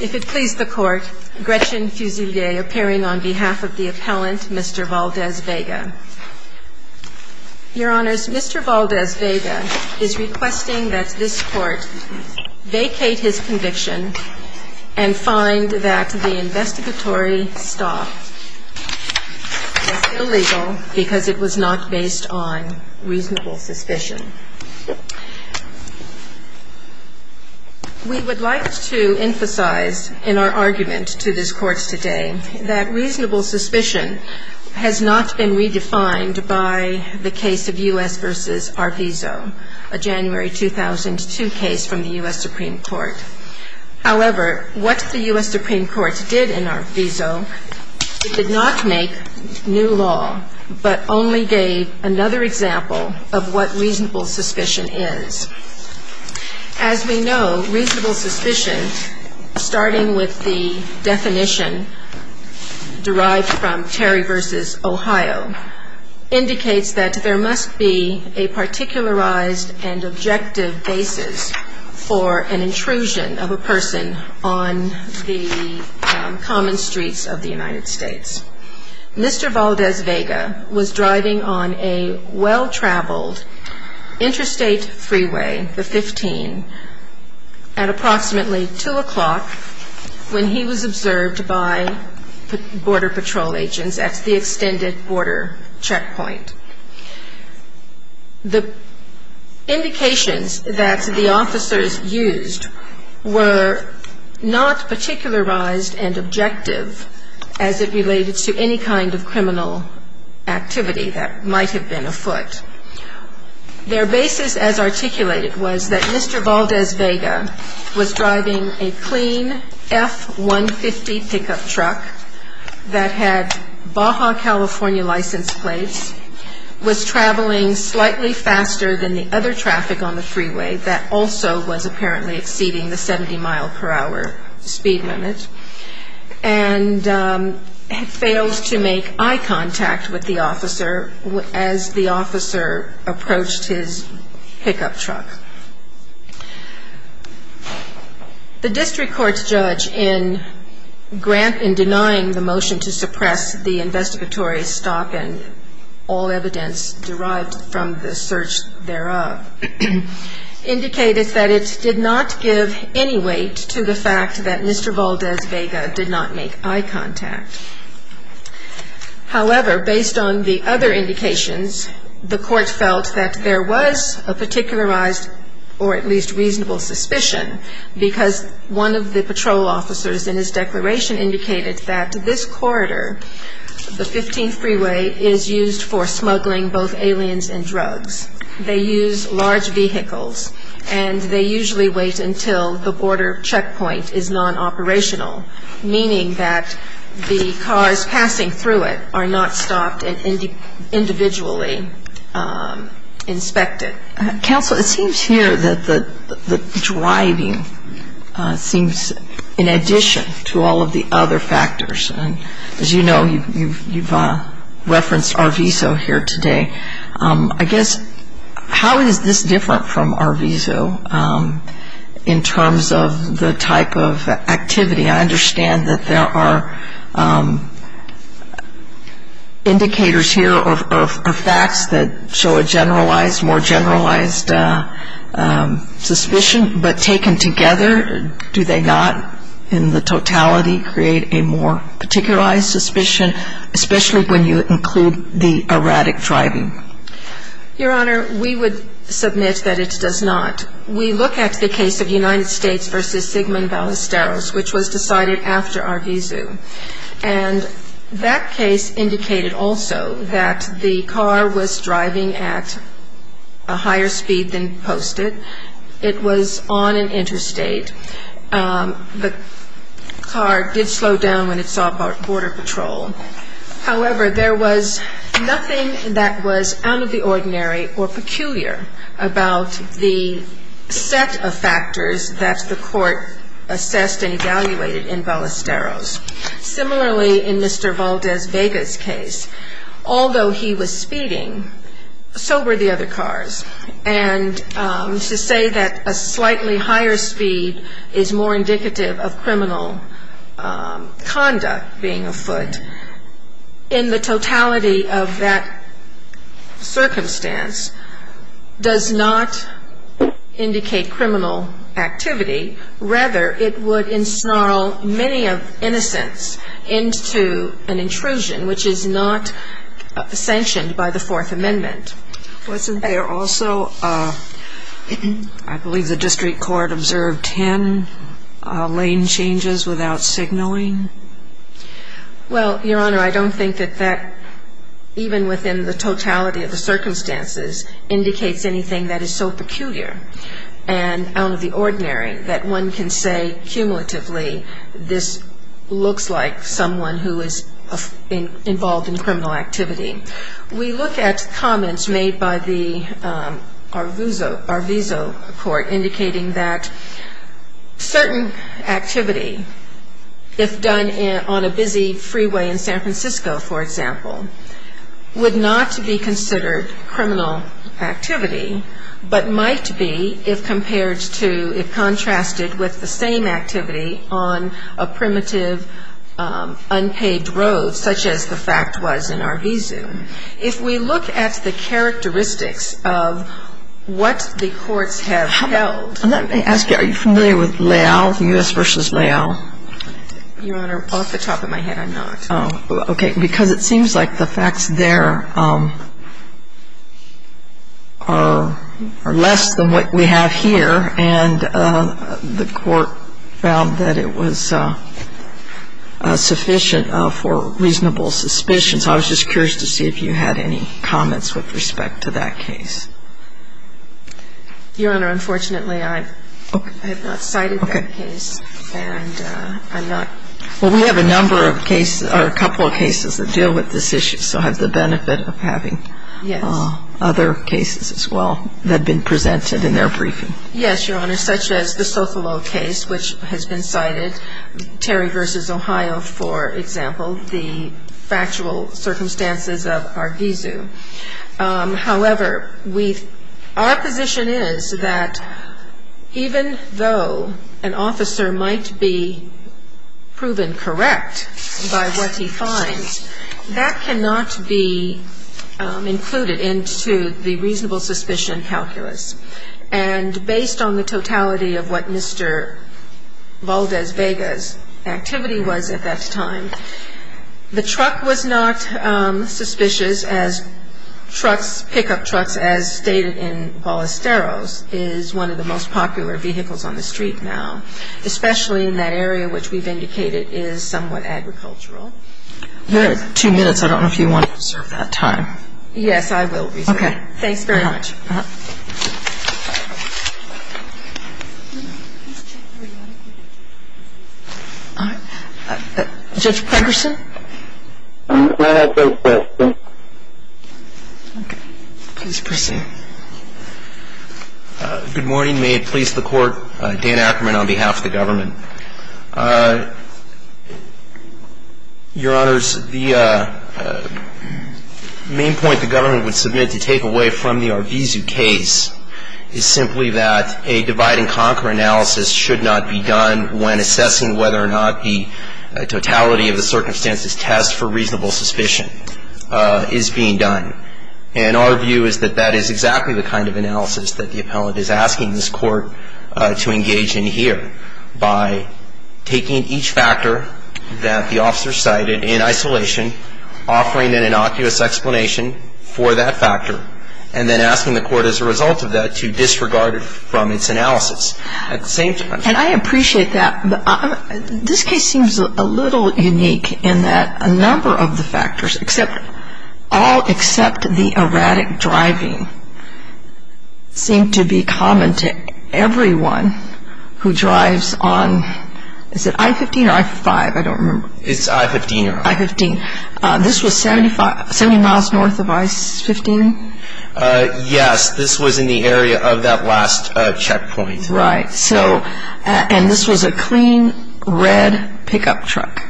If it please the court, Gretchen Fusilier appearing on behalf of the appellant, Mr. Valdes-Vega. Your honors, Mr. Valdes-Vega is requesting that this court vacate his conviction and find that the investigatory stop is illegal because it was not based on reasonable suspicion. We would like to emphasize in our argument to this court today that reasonable suspicion has not been redefined by the case of U.S. v. Arvizo, a January 2002 case from the U.S. Supreme Court. However, what the U.S. Supreme Court did in Arvizo, it did not make new law, but only gave another example of what reasonable suspicion is. As we know, reasonable suspicion, starting with the definition derived from Terry v. Ohio, indicates that there must be a particularized and objective basis for an intrusion of a person on the common streets of the United States. Mr. Valdes-Vega was driving on a well-traveled interstate freeway, the 15, at approximately 2 o'clock when he was observed by border patrol agents at the extended border checkpoint. The indications that the officers used were not particularized and objective as it related to any kind of criminal activity that might have been afoot. Their basis as articulated was that Mr. Valdes-Vega was driving a clean F-150 pickup truck that had Baja, California license plates, was traveling slightly faster than the other traffic on the freeway that also was apparently exceeding the 70-mile-per-hour speed limit, and failed to make eye contact with the officer as the officer approached his pickup truck. The district court's judge, in denying the motion to suppress the investigatory stop and all evidence derived from the search thereof, indicated that it did not give any weight to the fact that Mr. Valdes-Vega did not make eye contact. However, based on the other indications, the court felt that there was a particularized or at least reasonable suspicion because one of the patrol officers in his declaration indicated that this corridor, the 15 freeway, is used for smuggling both aliens and drugs. They use large vehicles and they usually wait until the border checkpoint is non-operational, meaning that the cars passing through it are not stopped and individually inspected. Counsel, it seems here that the driving seems in addition to all of the other factors. As you know, you've referenced Arvizo here today. I guess, how is this different from Arvizo in terms of the type of activity? I understand that there are indicators here of facts that show a generalized, more generalized suspicion, but taken together, do they not, in the totality, create a more particularized suspicion, especially when you include the erratic driving? Your Honor, we would submit that it does not. We look at the case of United States v. Sigmund Ballesteros, which was decided after Arvizo. And that case indicated also that the car was driving at a higher speed than posted. It was on an interstate. The car did slow down when it saw border patrol. However, there was nothing that was out of the ordinary or peculiar about the set of factors that the court assessed and evaluated in Ballesteros. Similarly, in Mr. Valdez Vega's case, although he was speeding, so were the other cars. And to say that a slightly higher speed is more indicative of criminal conduct being afoot, in the totality of that circumstance, does not indicate criminal activity. Rather, it would ensnarl many of innocents into an intrusion, which is not sanctioned by the Fourth Amendment. Wasn't there also, I believe the district court observed 10 lane changes without signaling? Well, Your Honor, I don't think that that, even within the totality of the circumstances, indicates anything that is so peculiar and out of the ordinary that one can say, cumulatively, this looks like someone who is involved in criminal activity. We look at comments made by the Arvizo court indicating that certain activity, if done on a busy freeway in San Francisco, for example, would not be considered criminal activity, but might be if compared to, if contrasted with the same activity on a primitive unpaved road, such as the fact was in Arvizo. If we look at the characteristics of what the courts have held. Let me ask you, are you familiar with Leal, U.S. v. Leal? Your Honor, off the top of my head, I'm not. Oh, okay. Because it seems like the facts there are less than what we have here, and the court found that it was sufficient for reasonable suspicion. So I was just curious to see if you had any comments with respect to that case. Your Honor, unfortunately, I have not cited that case. Okay. And I'm not. Well, we have a number of cases, or a couple of cases that deal with this issue, so I have the benefit of having other cases as well that have been presented in their briefing. Yes, Your Honor. I don't have any particular comments on any of the other cases, such as the Sofalo case, which has been cited, Terry v. Ohio, for example, the factual circumstances of Arvizo. However, our position is that even though an officer might be proven correct by what he finds, that cannot be included into the reasonable suspicion calculus. And based on the totality of what Mr. Valdez-Vega's activity was at that time, the truck was not suspicious, as pickup trucks, as stated in Ballesteros, is one of the most popular vehicles on the street now, especially in that area which we've indicated is somewhat agricultural. We have two minutes. I don't know if you want to reserve that time. Yes, I will reserve it. Okay. Thank you very much. Judge Pegerson? Please proceed. Good morning. May it please the Court, Dan Ackerman on behalf of the government. Your Honors, the main point the government would submit to take away from the Arvizo case is simply that a divide-and-conquer analysis should not be done when assessing whether or not the totality of the circumstances test for reasonable suspicion is being done. And our view is that that is exactly the kind of analysis that the appellate is asking this Court to engage in here by taking each factor that the officer cited in isolation, offering an innocuous explanation for that factor, and then asking the Court as a result of that to disregard it from its analysis. And I appreciate that. This case seems a little unique in that a number of the factors, all except the erratic driving, seem to be common to everyone who drives on, is it I-15 or I-5? I don't remember. It's I-15, Your Honor. I-15. This was 70 miles north of I-15? Yes. This was in the area of that last checkpoint. Right. And this was a clean, red pickup truck,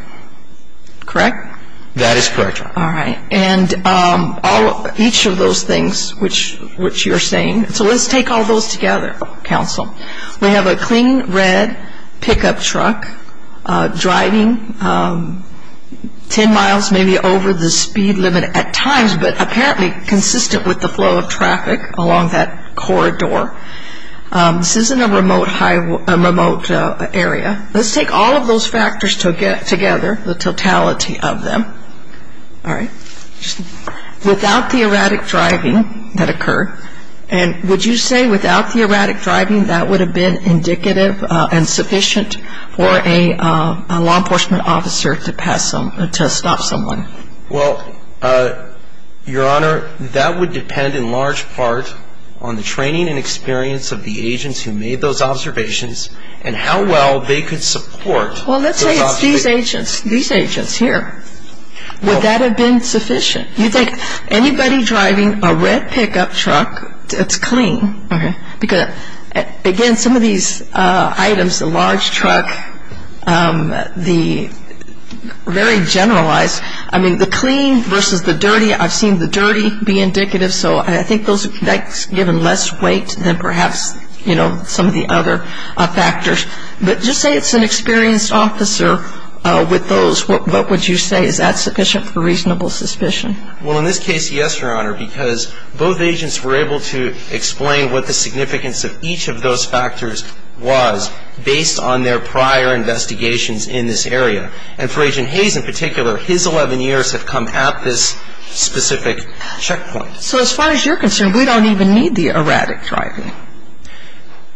correct? That is correct, Your Honor. All right. And each of those things which you're saying, so let's take all those together, counsel. We have a clean, red pickup truck driving 10 miles maybe over the speed limit at times, but apparently consistent with the flow of traffic along that corridor. This is in a remote area. Let's take all of those factors together, the totality of them, all right, without the erratic driving that occurred. And would you say without the erratic driving that would have been indicative and sufficient for a law enforcement officer to pass some, to stop someone? Well, Your Honor, that would depend in large part on the training and experience of the agents who made those observations and how well they could support those observations. Well, let's say it's these agents, these agents here. Would that have been sufficient? You think anybody driving a red pickup truck, it's clean. Okay. Because, again, some of these items, the large truck, the very generalized, I mean, the clean versus the dirty, I've seen the dirty be indicative, so I think that's given less weight than perhaps, you know, some of the other factors. But just say it's an experienced officer with those, what would you say? Is that sufficient for reasonable suspicion? Well, in this case, yes, Your Honor, because both agents were able to explain what the significance of each of those factors was based on their prior investigations in this area. And for Agent Hayes in particular, his 11 years have come at this specific checkpoint. So as far as you're concerned, we don't even need the erratic driving.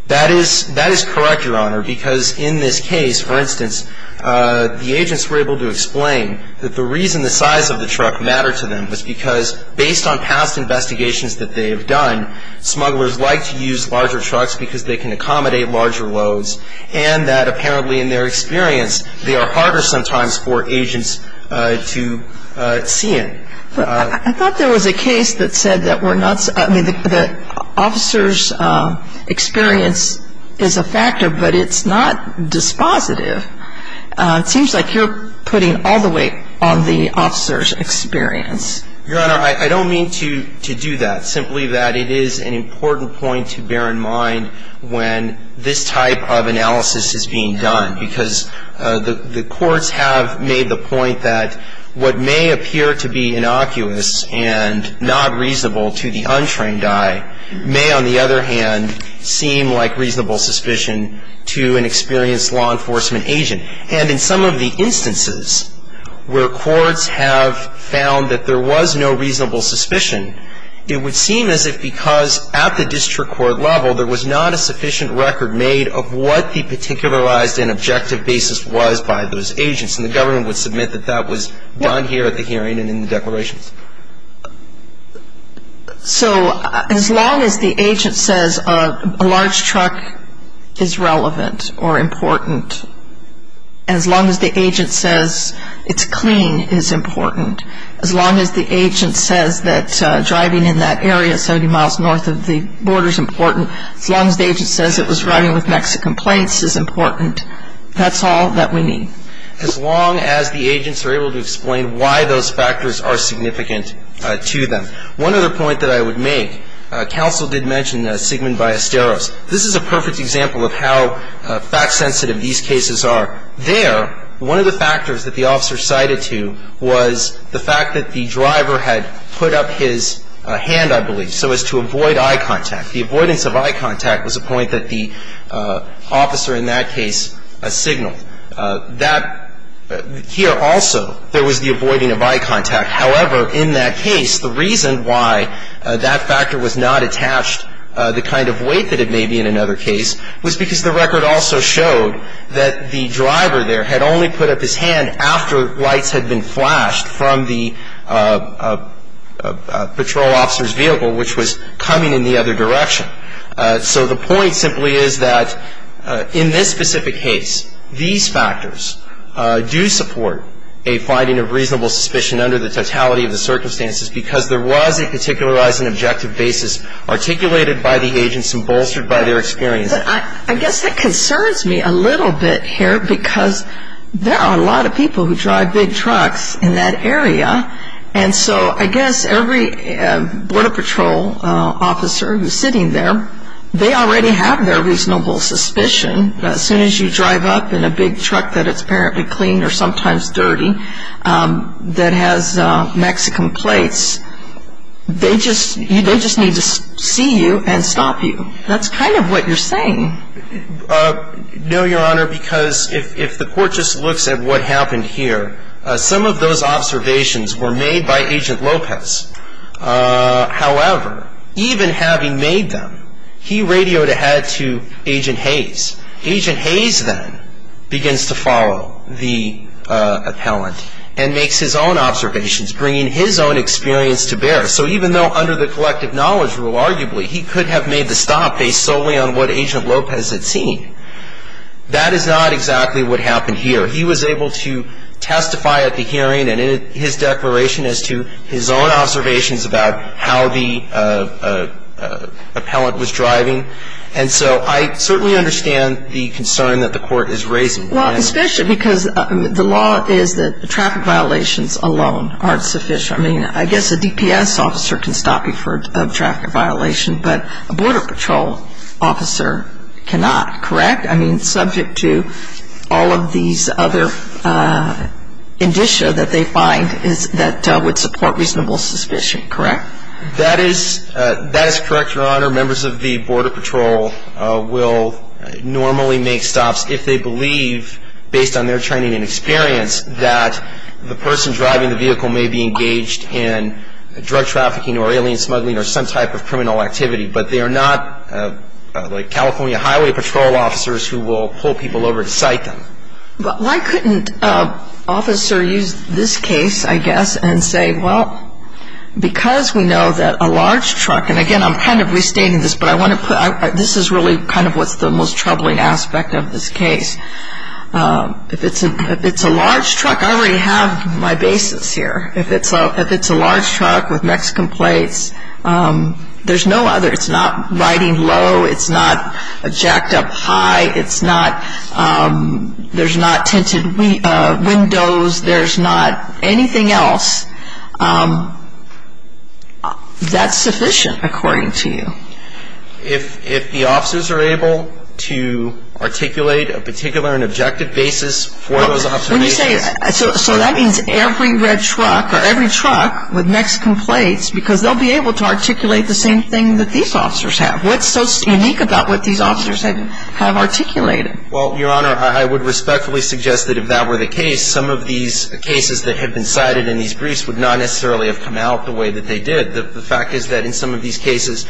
That is correct, Your Honor, because in this case, for instance, the agents were able to explain that the reason the size of the truck mattered to them was because based on past investigations that they have done, smugglers like to use larger trucks because they can accommodate larger loads and that apparently in their experience, they are harder sometimes for agents to see in. But I thought there was a case that said that we're not, I mean, the officer's experience is a factor, but it's not dispositive. It seems like you're putting all the weight on the officer's experience. Your Honor, I don't mean to do that, simply that it is an important point to bear in mind when this type of analysis is being done, because the courts have made the point that what may appear to be innocuous and not reasonable to the untrained eye may on the other hand seem like reasonable suspicion to an experienced law enforcement agent. And in some of the instances where courts have found that there was no reasonable suspicion, it would seem as if because at the district court level, there was not a sufficient record made of what the particularized and objective basis was by those agents, and the government would submit that that was done here at the hearing and in the declarations. So as long as the agent says a large truck is relevant or important, as long as the agent says it's clean is important, as long as the agent says that driving in that area 70 miles north of the border is important, as long as the agent says it was driving with Mexican plates is important, that's all that we need. As long as the agents are able to explain why those factors are significant to them. One other point that I would make, counsel did mention Sigmund Ballesteros. This is a perfect example of how fact sensitive these cases are. There, one of the factors that the officer cited to was the fact that the driver had put up his hand, I believe, so as to avoid eye contact. The avoidance of eye contact was a point that the officer in that case signaled. That here also, there was the avoiding of eye contact. However, in that case, the reason why that factor was not attached, the kind of weight that it may be in another case, was because the record also showed that the driver there had only put up his hand after lights had been flashed from the patrol officer's vehicle, which was coming in the other direction. So the point simply is that in this specific case, these factors do support a finding of reasonable suspicion under the totality of the circumstances, because there was a particularizing objective basis articulated by the agents and bolstered by their experience. I guess that concerns me a little bit here, because there are a lot of people who drive big trucks in that area, and so I guess every Border Patrol officer who's sitting there, they already have their reasonable suspicion that as soon as you drive up in a big truck that is apparently clean or sometimes dirty, that has Mexican plates, they just need to see you and stop you. That's kind of what you're saying. No, Your Honor, because if the court just looks at what happened here, some of those observations were made by Agent Lopez. However, even having made them, he radioed ahead to Agent Hayes. Agent Hayes then begins to follow the appellant and makes his own observations, bringing his own experience to bear. So even though under the collective knowledge rule, arguably, he could have made the stop based solely on what Agent Lopez had seen, that is not exactly what happened here. He was able to testify at the hearing and in his declaration as to his own observations about how the appellant was driving. And so I certainly understand the concern that the court is raising. Well, especially because the law is that traffic violations alone aren't sufficient. I mean, I guess a DPS officer can stop you for a traffic violation, but a Border Patrol officer cannot, correct? I mean, subject to all of these other indicia that they find that would support reasonable suspicion, correct? That is correct, Your Honor. Members of the Border Patrol will normally make stops if they believe, based on their training and experience, that the person driving the vehicle may be engaged in drug trafficking or alien smuggling or some type of criminal activity. But they are not like California Highway Patrol officers who will pull people over to cite them. But why couldn't an officer use this case, I guess, and say, well, because we know that a large truck, and again, I'm kind of restating this, but this is really kind of what's the most troubling aspect of this case. If it's a large truck, I already have my basis here. If it's a large truck with Mexican plates, there's no other. It's not riding low. It's not jacked up high. There's not tinted windows. There's not anything else that's sufficient, according to you. If the officers are able to articulate a particular and objective basis for those observations. When you say, so that means every red truck or every truck with Mexican plates, because they'll be able to articulate the same thing that these officers have. What's so unique about what these officers have articulated? Well, Your Honor, I would respectfully suggest that if that were the case, some of these cases that have been cited in these briefs would not necessarily have come out the way that they did. The fact is that in some of these cases,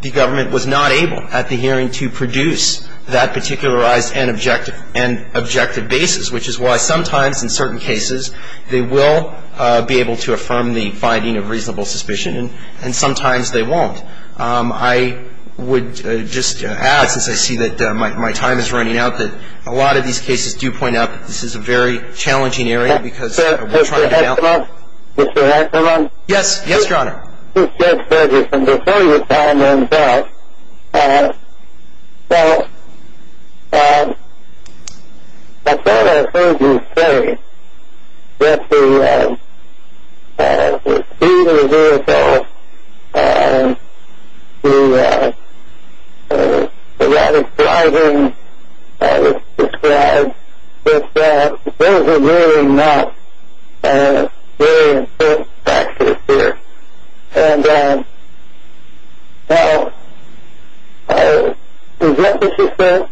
the government was not able at the hearing to produce that particularized and objective basis, which is why sometimes in certain cases they will be able to affirm the finding of reasonable suspicion, and sometimes they won't. I would just add, since I see that my time is running out, that a lot of these cases do point out that this is a very challenging area because we're trying to do analysis. Mr. Hanselman? Yes, Your Honor. Judge Ferguson, before you time runs out, I thought I heard you say that the speed of the vehicle, the erratic driving that was described, that those are really not very important factors here. And now, is that what you said?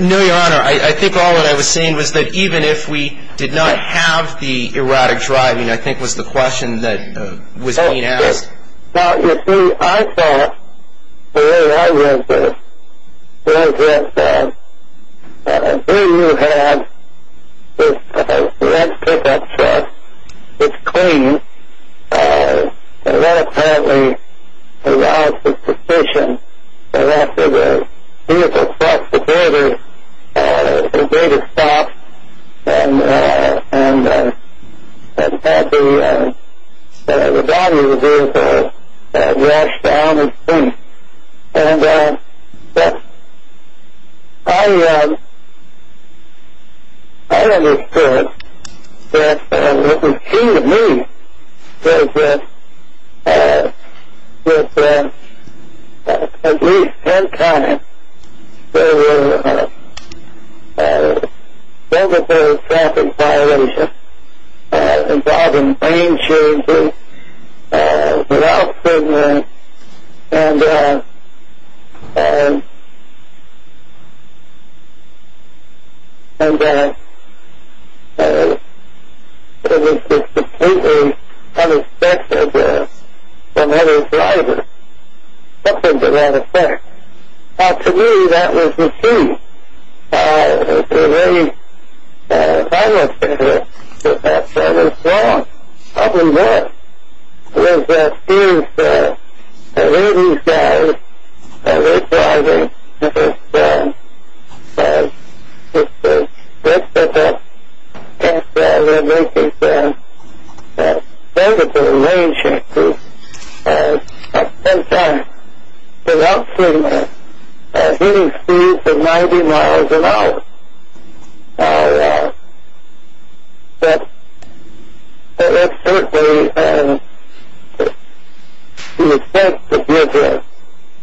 No, Your Honor. I think all that I was saying was that even if we did not have the erratic driving, I think was the question that was being asked. Now, you see, I thought the way I read this was that here you have this red pickup truck. It's clean, and that apparently allows the suspicion that after the vehicle crossed the border, it was able to stop and have the body of the vehicle rushed down the street. But I understood that what was key to me was that with at least ten times, there were over-the-counter traffic violations involving lane changes, blocks, and it was just completely unexpected from other drivers. Nothing to that effect. Now, to me, that was the key. It was a very vital factor that was wrong. The problem there was that these erratic guys, erratic driving, and this red pickup truck that was making terrible lane changes, had ten times the maximum hitting speed of 90 miles an hour. Now, that certainly would have helped to give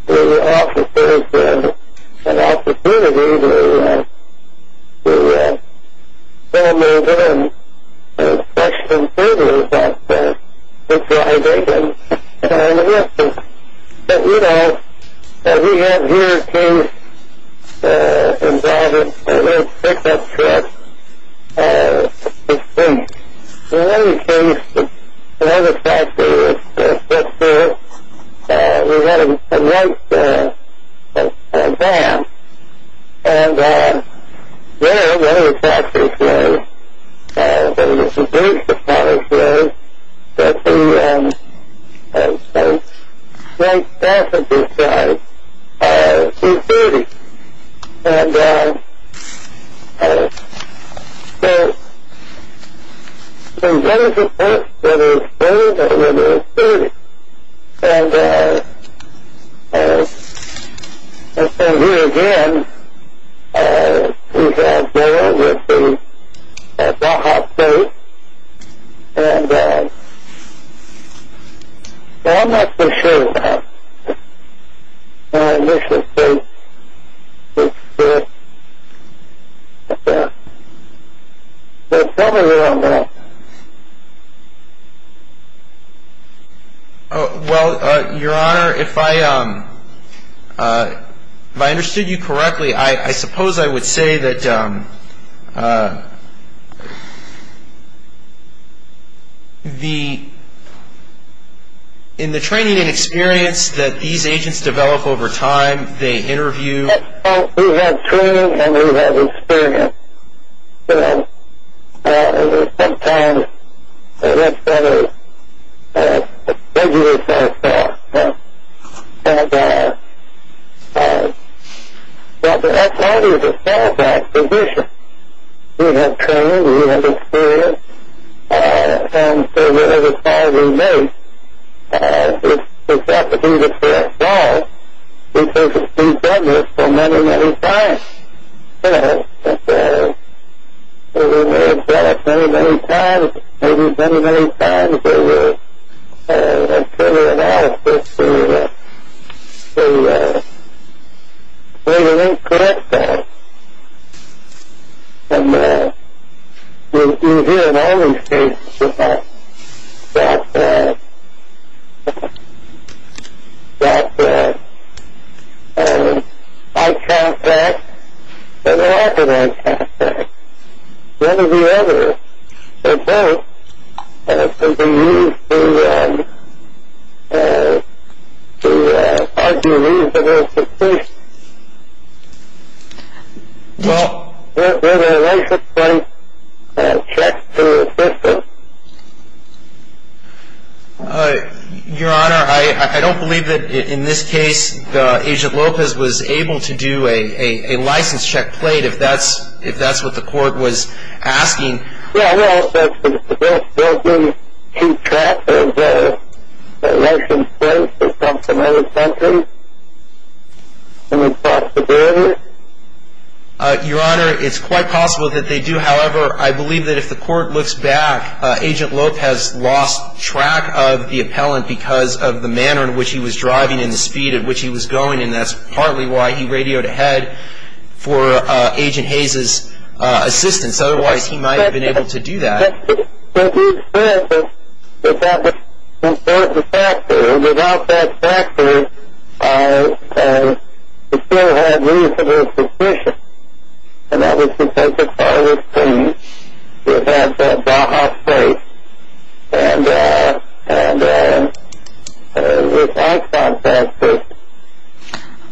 the officers an opportunity to pull them over and question the safety of that pickup truck. But, you know, we have here a case involving a red pickup truck that's been lane changed. One of the factors was that we had a white van, and there one of the factors was that it was reduced to probably 50 white passengers by two-thirty. And so, what is it that is owed and what is paid? And so here again, we have there with the Baja state. And, well, I'm not going to show you that. This is basically it. Tell me more on that. Well, Your Honor, if I understood you correctly, I suppose I would say that in the training and experience that these agents develop over time, they interview. We have training and we have experience. You know, sometimes it's better to figure this out first. And, well, that's part of the stand-by position. We have training. We have experience. And so whatever call we make, it's not to do the first call. Because we've done this for many, many times. And we may have done it many, many times. Maybe many, many times. But it's sort of an asset to bring a link to that call. And you hear in all these cases that I can't back and I can't back. Whether we ever suppose that we need to argue reasonable suspicion with a license plate check to the assistant. Your Honor, I don't believe that in this case the agent Lopez was able to do a license check plate if that's what the court was asking. Well, well, does the building keep track of the license plate that's on the license plate? Is that a possibility? Your Honor, it's quite possible that they do. However, I believe that if the court looks back, Agent Lopez lost track of the appellant because of the manner in which he was driving and the speed at which he was going. And that's partly why he radioed ahead for Agent Hayes' assistance. Otherwise, he might have been able to do that. But he said that that was an important factor. Without that factor, he still had reasonable suspicion. And that was because the car was clean. Without that factor.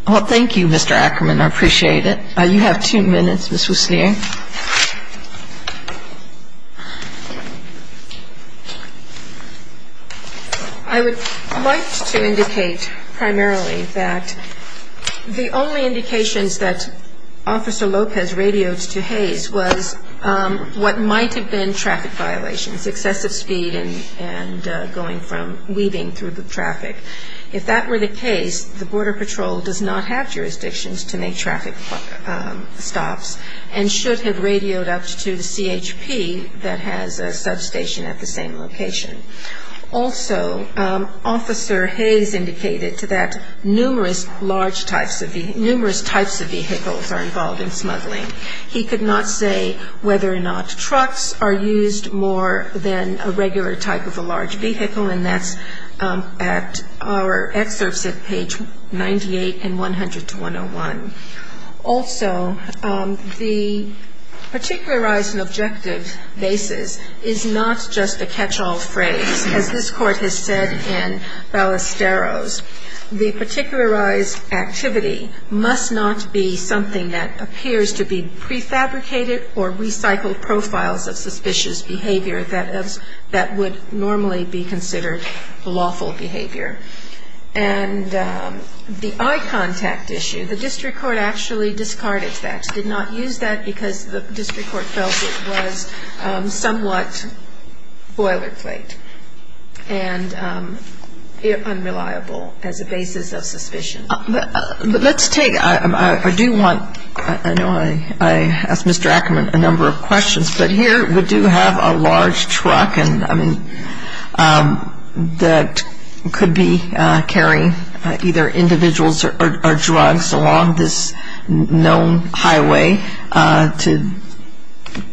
Well, thank you, Mr. Ackerman. I appreciate it. You have two minutes, Ms. Wiesner. I would like to indicate primarily that the only indications that Officer Lopez radioed to Hayes was what might have been traffic violations, excessive speed and going from weaving through the traffic. If that were the case, the Border Patrol does not have jurisdictions to make traffic stops and should have radioed up to the CHP that has a substation at the same location. Also, Officer Hayes indicated that numerous types of vehicles are involved in smuggling. He could not say whether or not trucks are used more than a regular type of a large vehicle. And that's at our excerpts at page 98 and 100-101. Also, the particularized and objective basis is not just a catch-all phrase. As this Court has said in Ballesteros, the particularized activity must not be something that appears to be prefabricated or recycled profiles of suspicious behavior that would normally be considered lawful behavior. And the eye contact issue, the district court actually discarded that, did not use that because the district court felt it was somewhat boilerplate and unreliable as a basis of suspicion. But let's take, I do want, I know I asked Mr. Ackerman a number of questions, but here we do have a large truck and, I mean, that could be carrying either individuals or drugs along this known highway to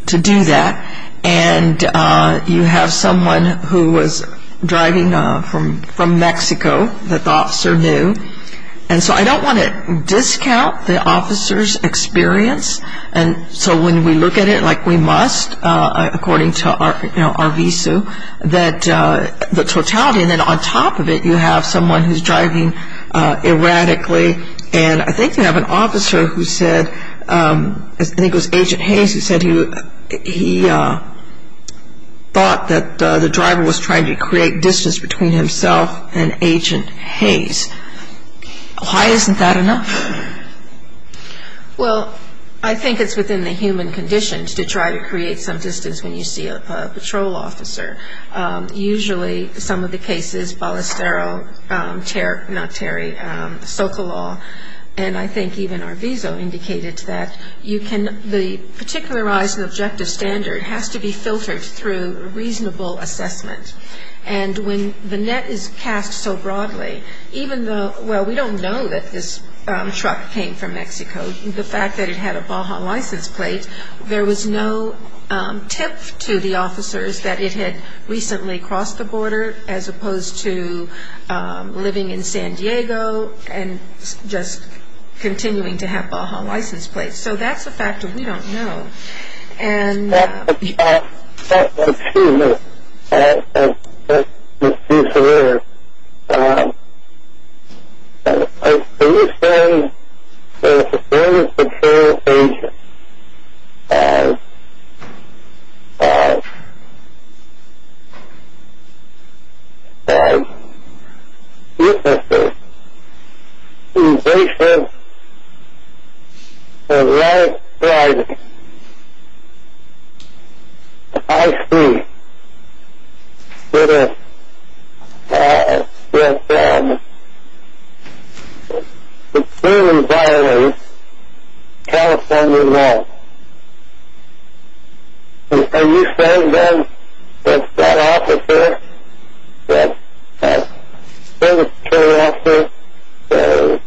do that. And you have someone who was driving from Mexico that the officer knew. And so I don't want to discount the officer's experience. And so when we look at it like we must, according to our visa, that the totality and then on top of it you have someone who's driving erratically. And I think you have an officer who said, I think it was Agent Hayes, who said he thought that the driver was trying to create distance between himself and Agent Hayes. Why isn't that enough? Well, I think it's within the human conditions to try to create some distance when you see a patrol officer. Usually some of the cases, Ballestero, Terry, not Terry, Socolow, and I think even Arvizo indicated that you can, the particularized objective standard has to be filtered through reasonable assessment. And when the net is cast so broadly, even though, well we don't know that this truck came from Mexico, the fact that it had a Baja license plate, there was no tip to the officers that it had recently crossed the border as opposed to living in San Diego and just continuing to have Baja license plates. So that's a fact that we don't know. Excuse me. Let's just do some more. I understand that a security patrol agent has uselessness, invasive, and widespread IC that has been supremely violent in California law. Are you saying then that that officer, that service patrol officer,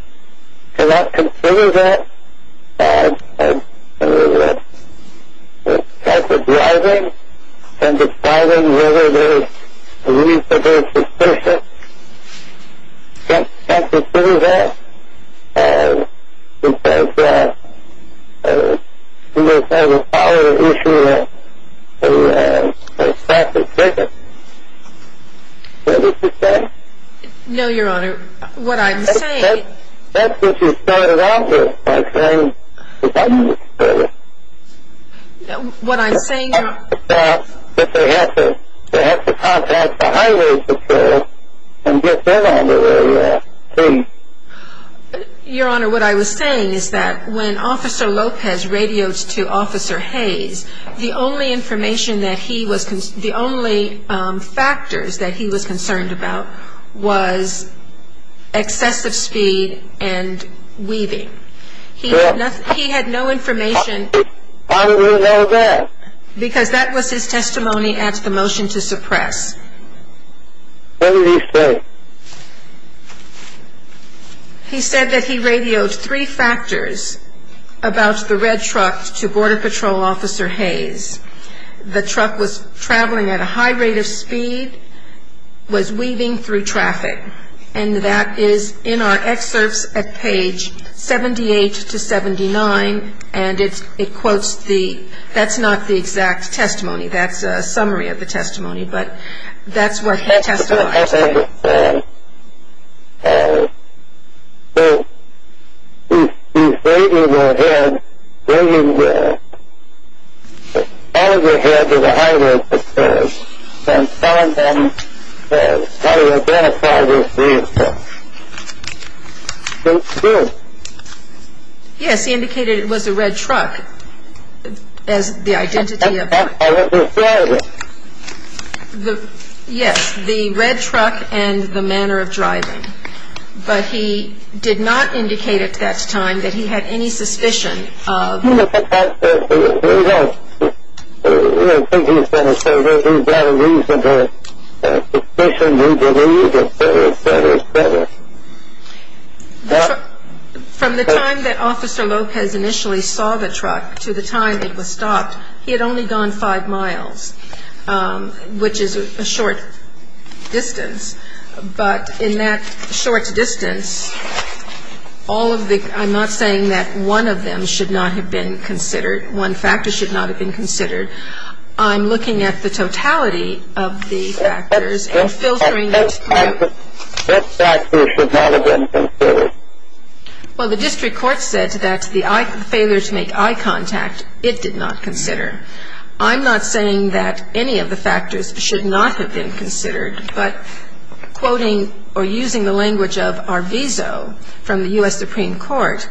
cannot consider that type of driving and deciding whether there's a need for those restrictions? Can't consider that? Because, you know, there's always the issue of a traffic ticket. Is that what you're saying? No, Your Honor. What I'm saying is... That's what you started off with, by saying that that needs to go. What I'm saying, Your Honor... But they have to contact the highway patrol and get that on the radio, too. Your Honor, what I was saying is that when Officer Lopez radioed to Officer Hayes, the only factors that he was concerned about was excessive speed and weaving. He had no information... How do you know that? Because that was his testimony at the motion to suppress. What did he say? He said that he radioed three factors about the red truck to Border Patrol Officer Hayes. The truck was traveling at a high rate of speed, was weaving through traffic, and that is in our excerpts at page 78 to 79, and it quotes the...that's not the exact testimony. That's a summary of the testimony, but that's what he testified to. That's what he testified to. He's waving his head, waving all of his head to the highway patrol, and telling them how to identify this vehicle. So it's true. Yes, he indicated it was a red truck as the identity of... That's not how it was driving. Yes, the red truck and the manner of driving. But he did not indicate at that time that he had any suspicion of... He didn't think he was going to survive. He's got a reasonable suspicion. From the time that Officer Lopez initially saw the truck to the time it was stopped, he had only gone five miles, which is a short distance. But in that short distance, all of the... I'm not saying that one of them should not have been considered, one factor should not have been considered. I'm looking at the totality of the factors and filtering... What factors should not have been considered? Well, the district court said that the failure to make eye contact it did not consider. I'm not saying that any of the factors should not have been considered, but quoting or using the language of Arvizo from the U.S. Supreme Court,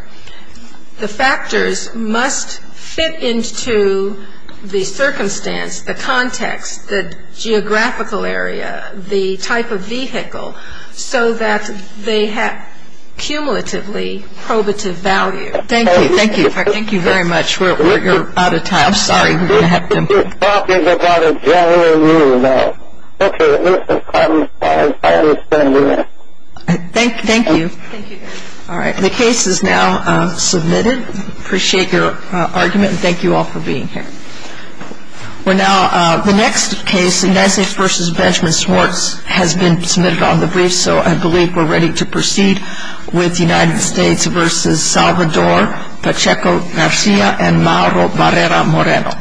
the factors must fit into the circumstance, the context, the geographical area, the type of vehicle so that they have cumulatively probative value. Thank you. Thank you. Thank you very much. We're out of time. I'm sorry. We're going to have to... You're talking about a general rule now. Okay. I understand that. Thank you. Thank you. All right. The case is now submitted. Appreciate your argument, and thank you all for being here. Well, now, the next case, Inezes v. Benjamin Schwartz, has been submitted on the brief, so I believe we're ready to proceed with United States v. Salvador Pacheco-Garcia and Mauro Barrera-Moreno.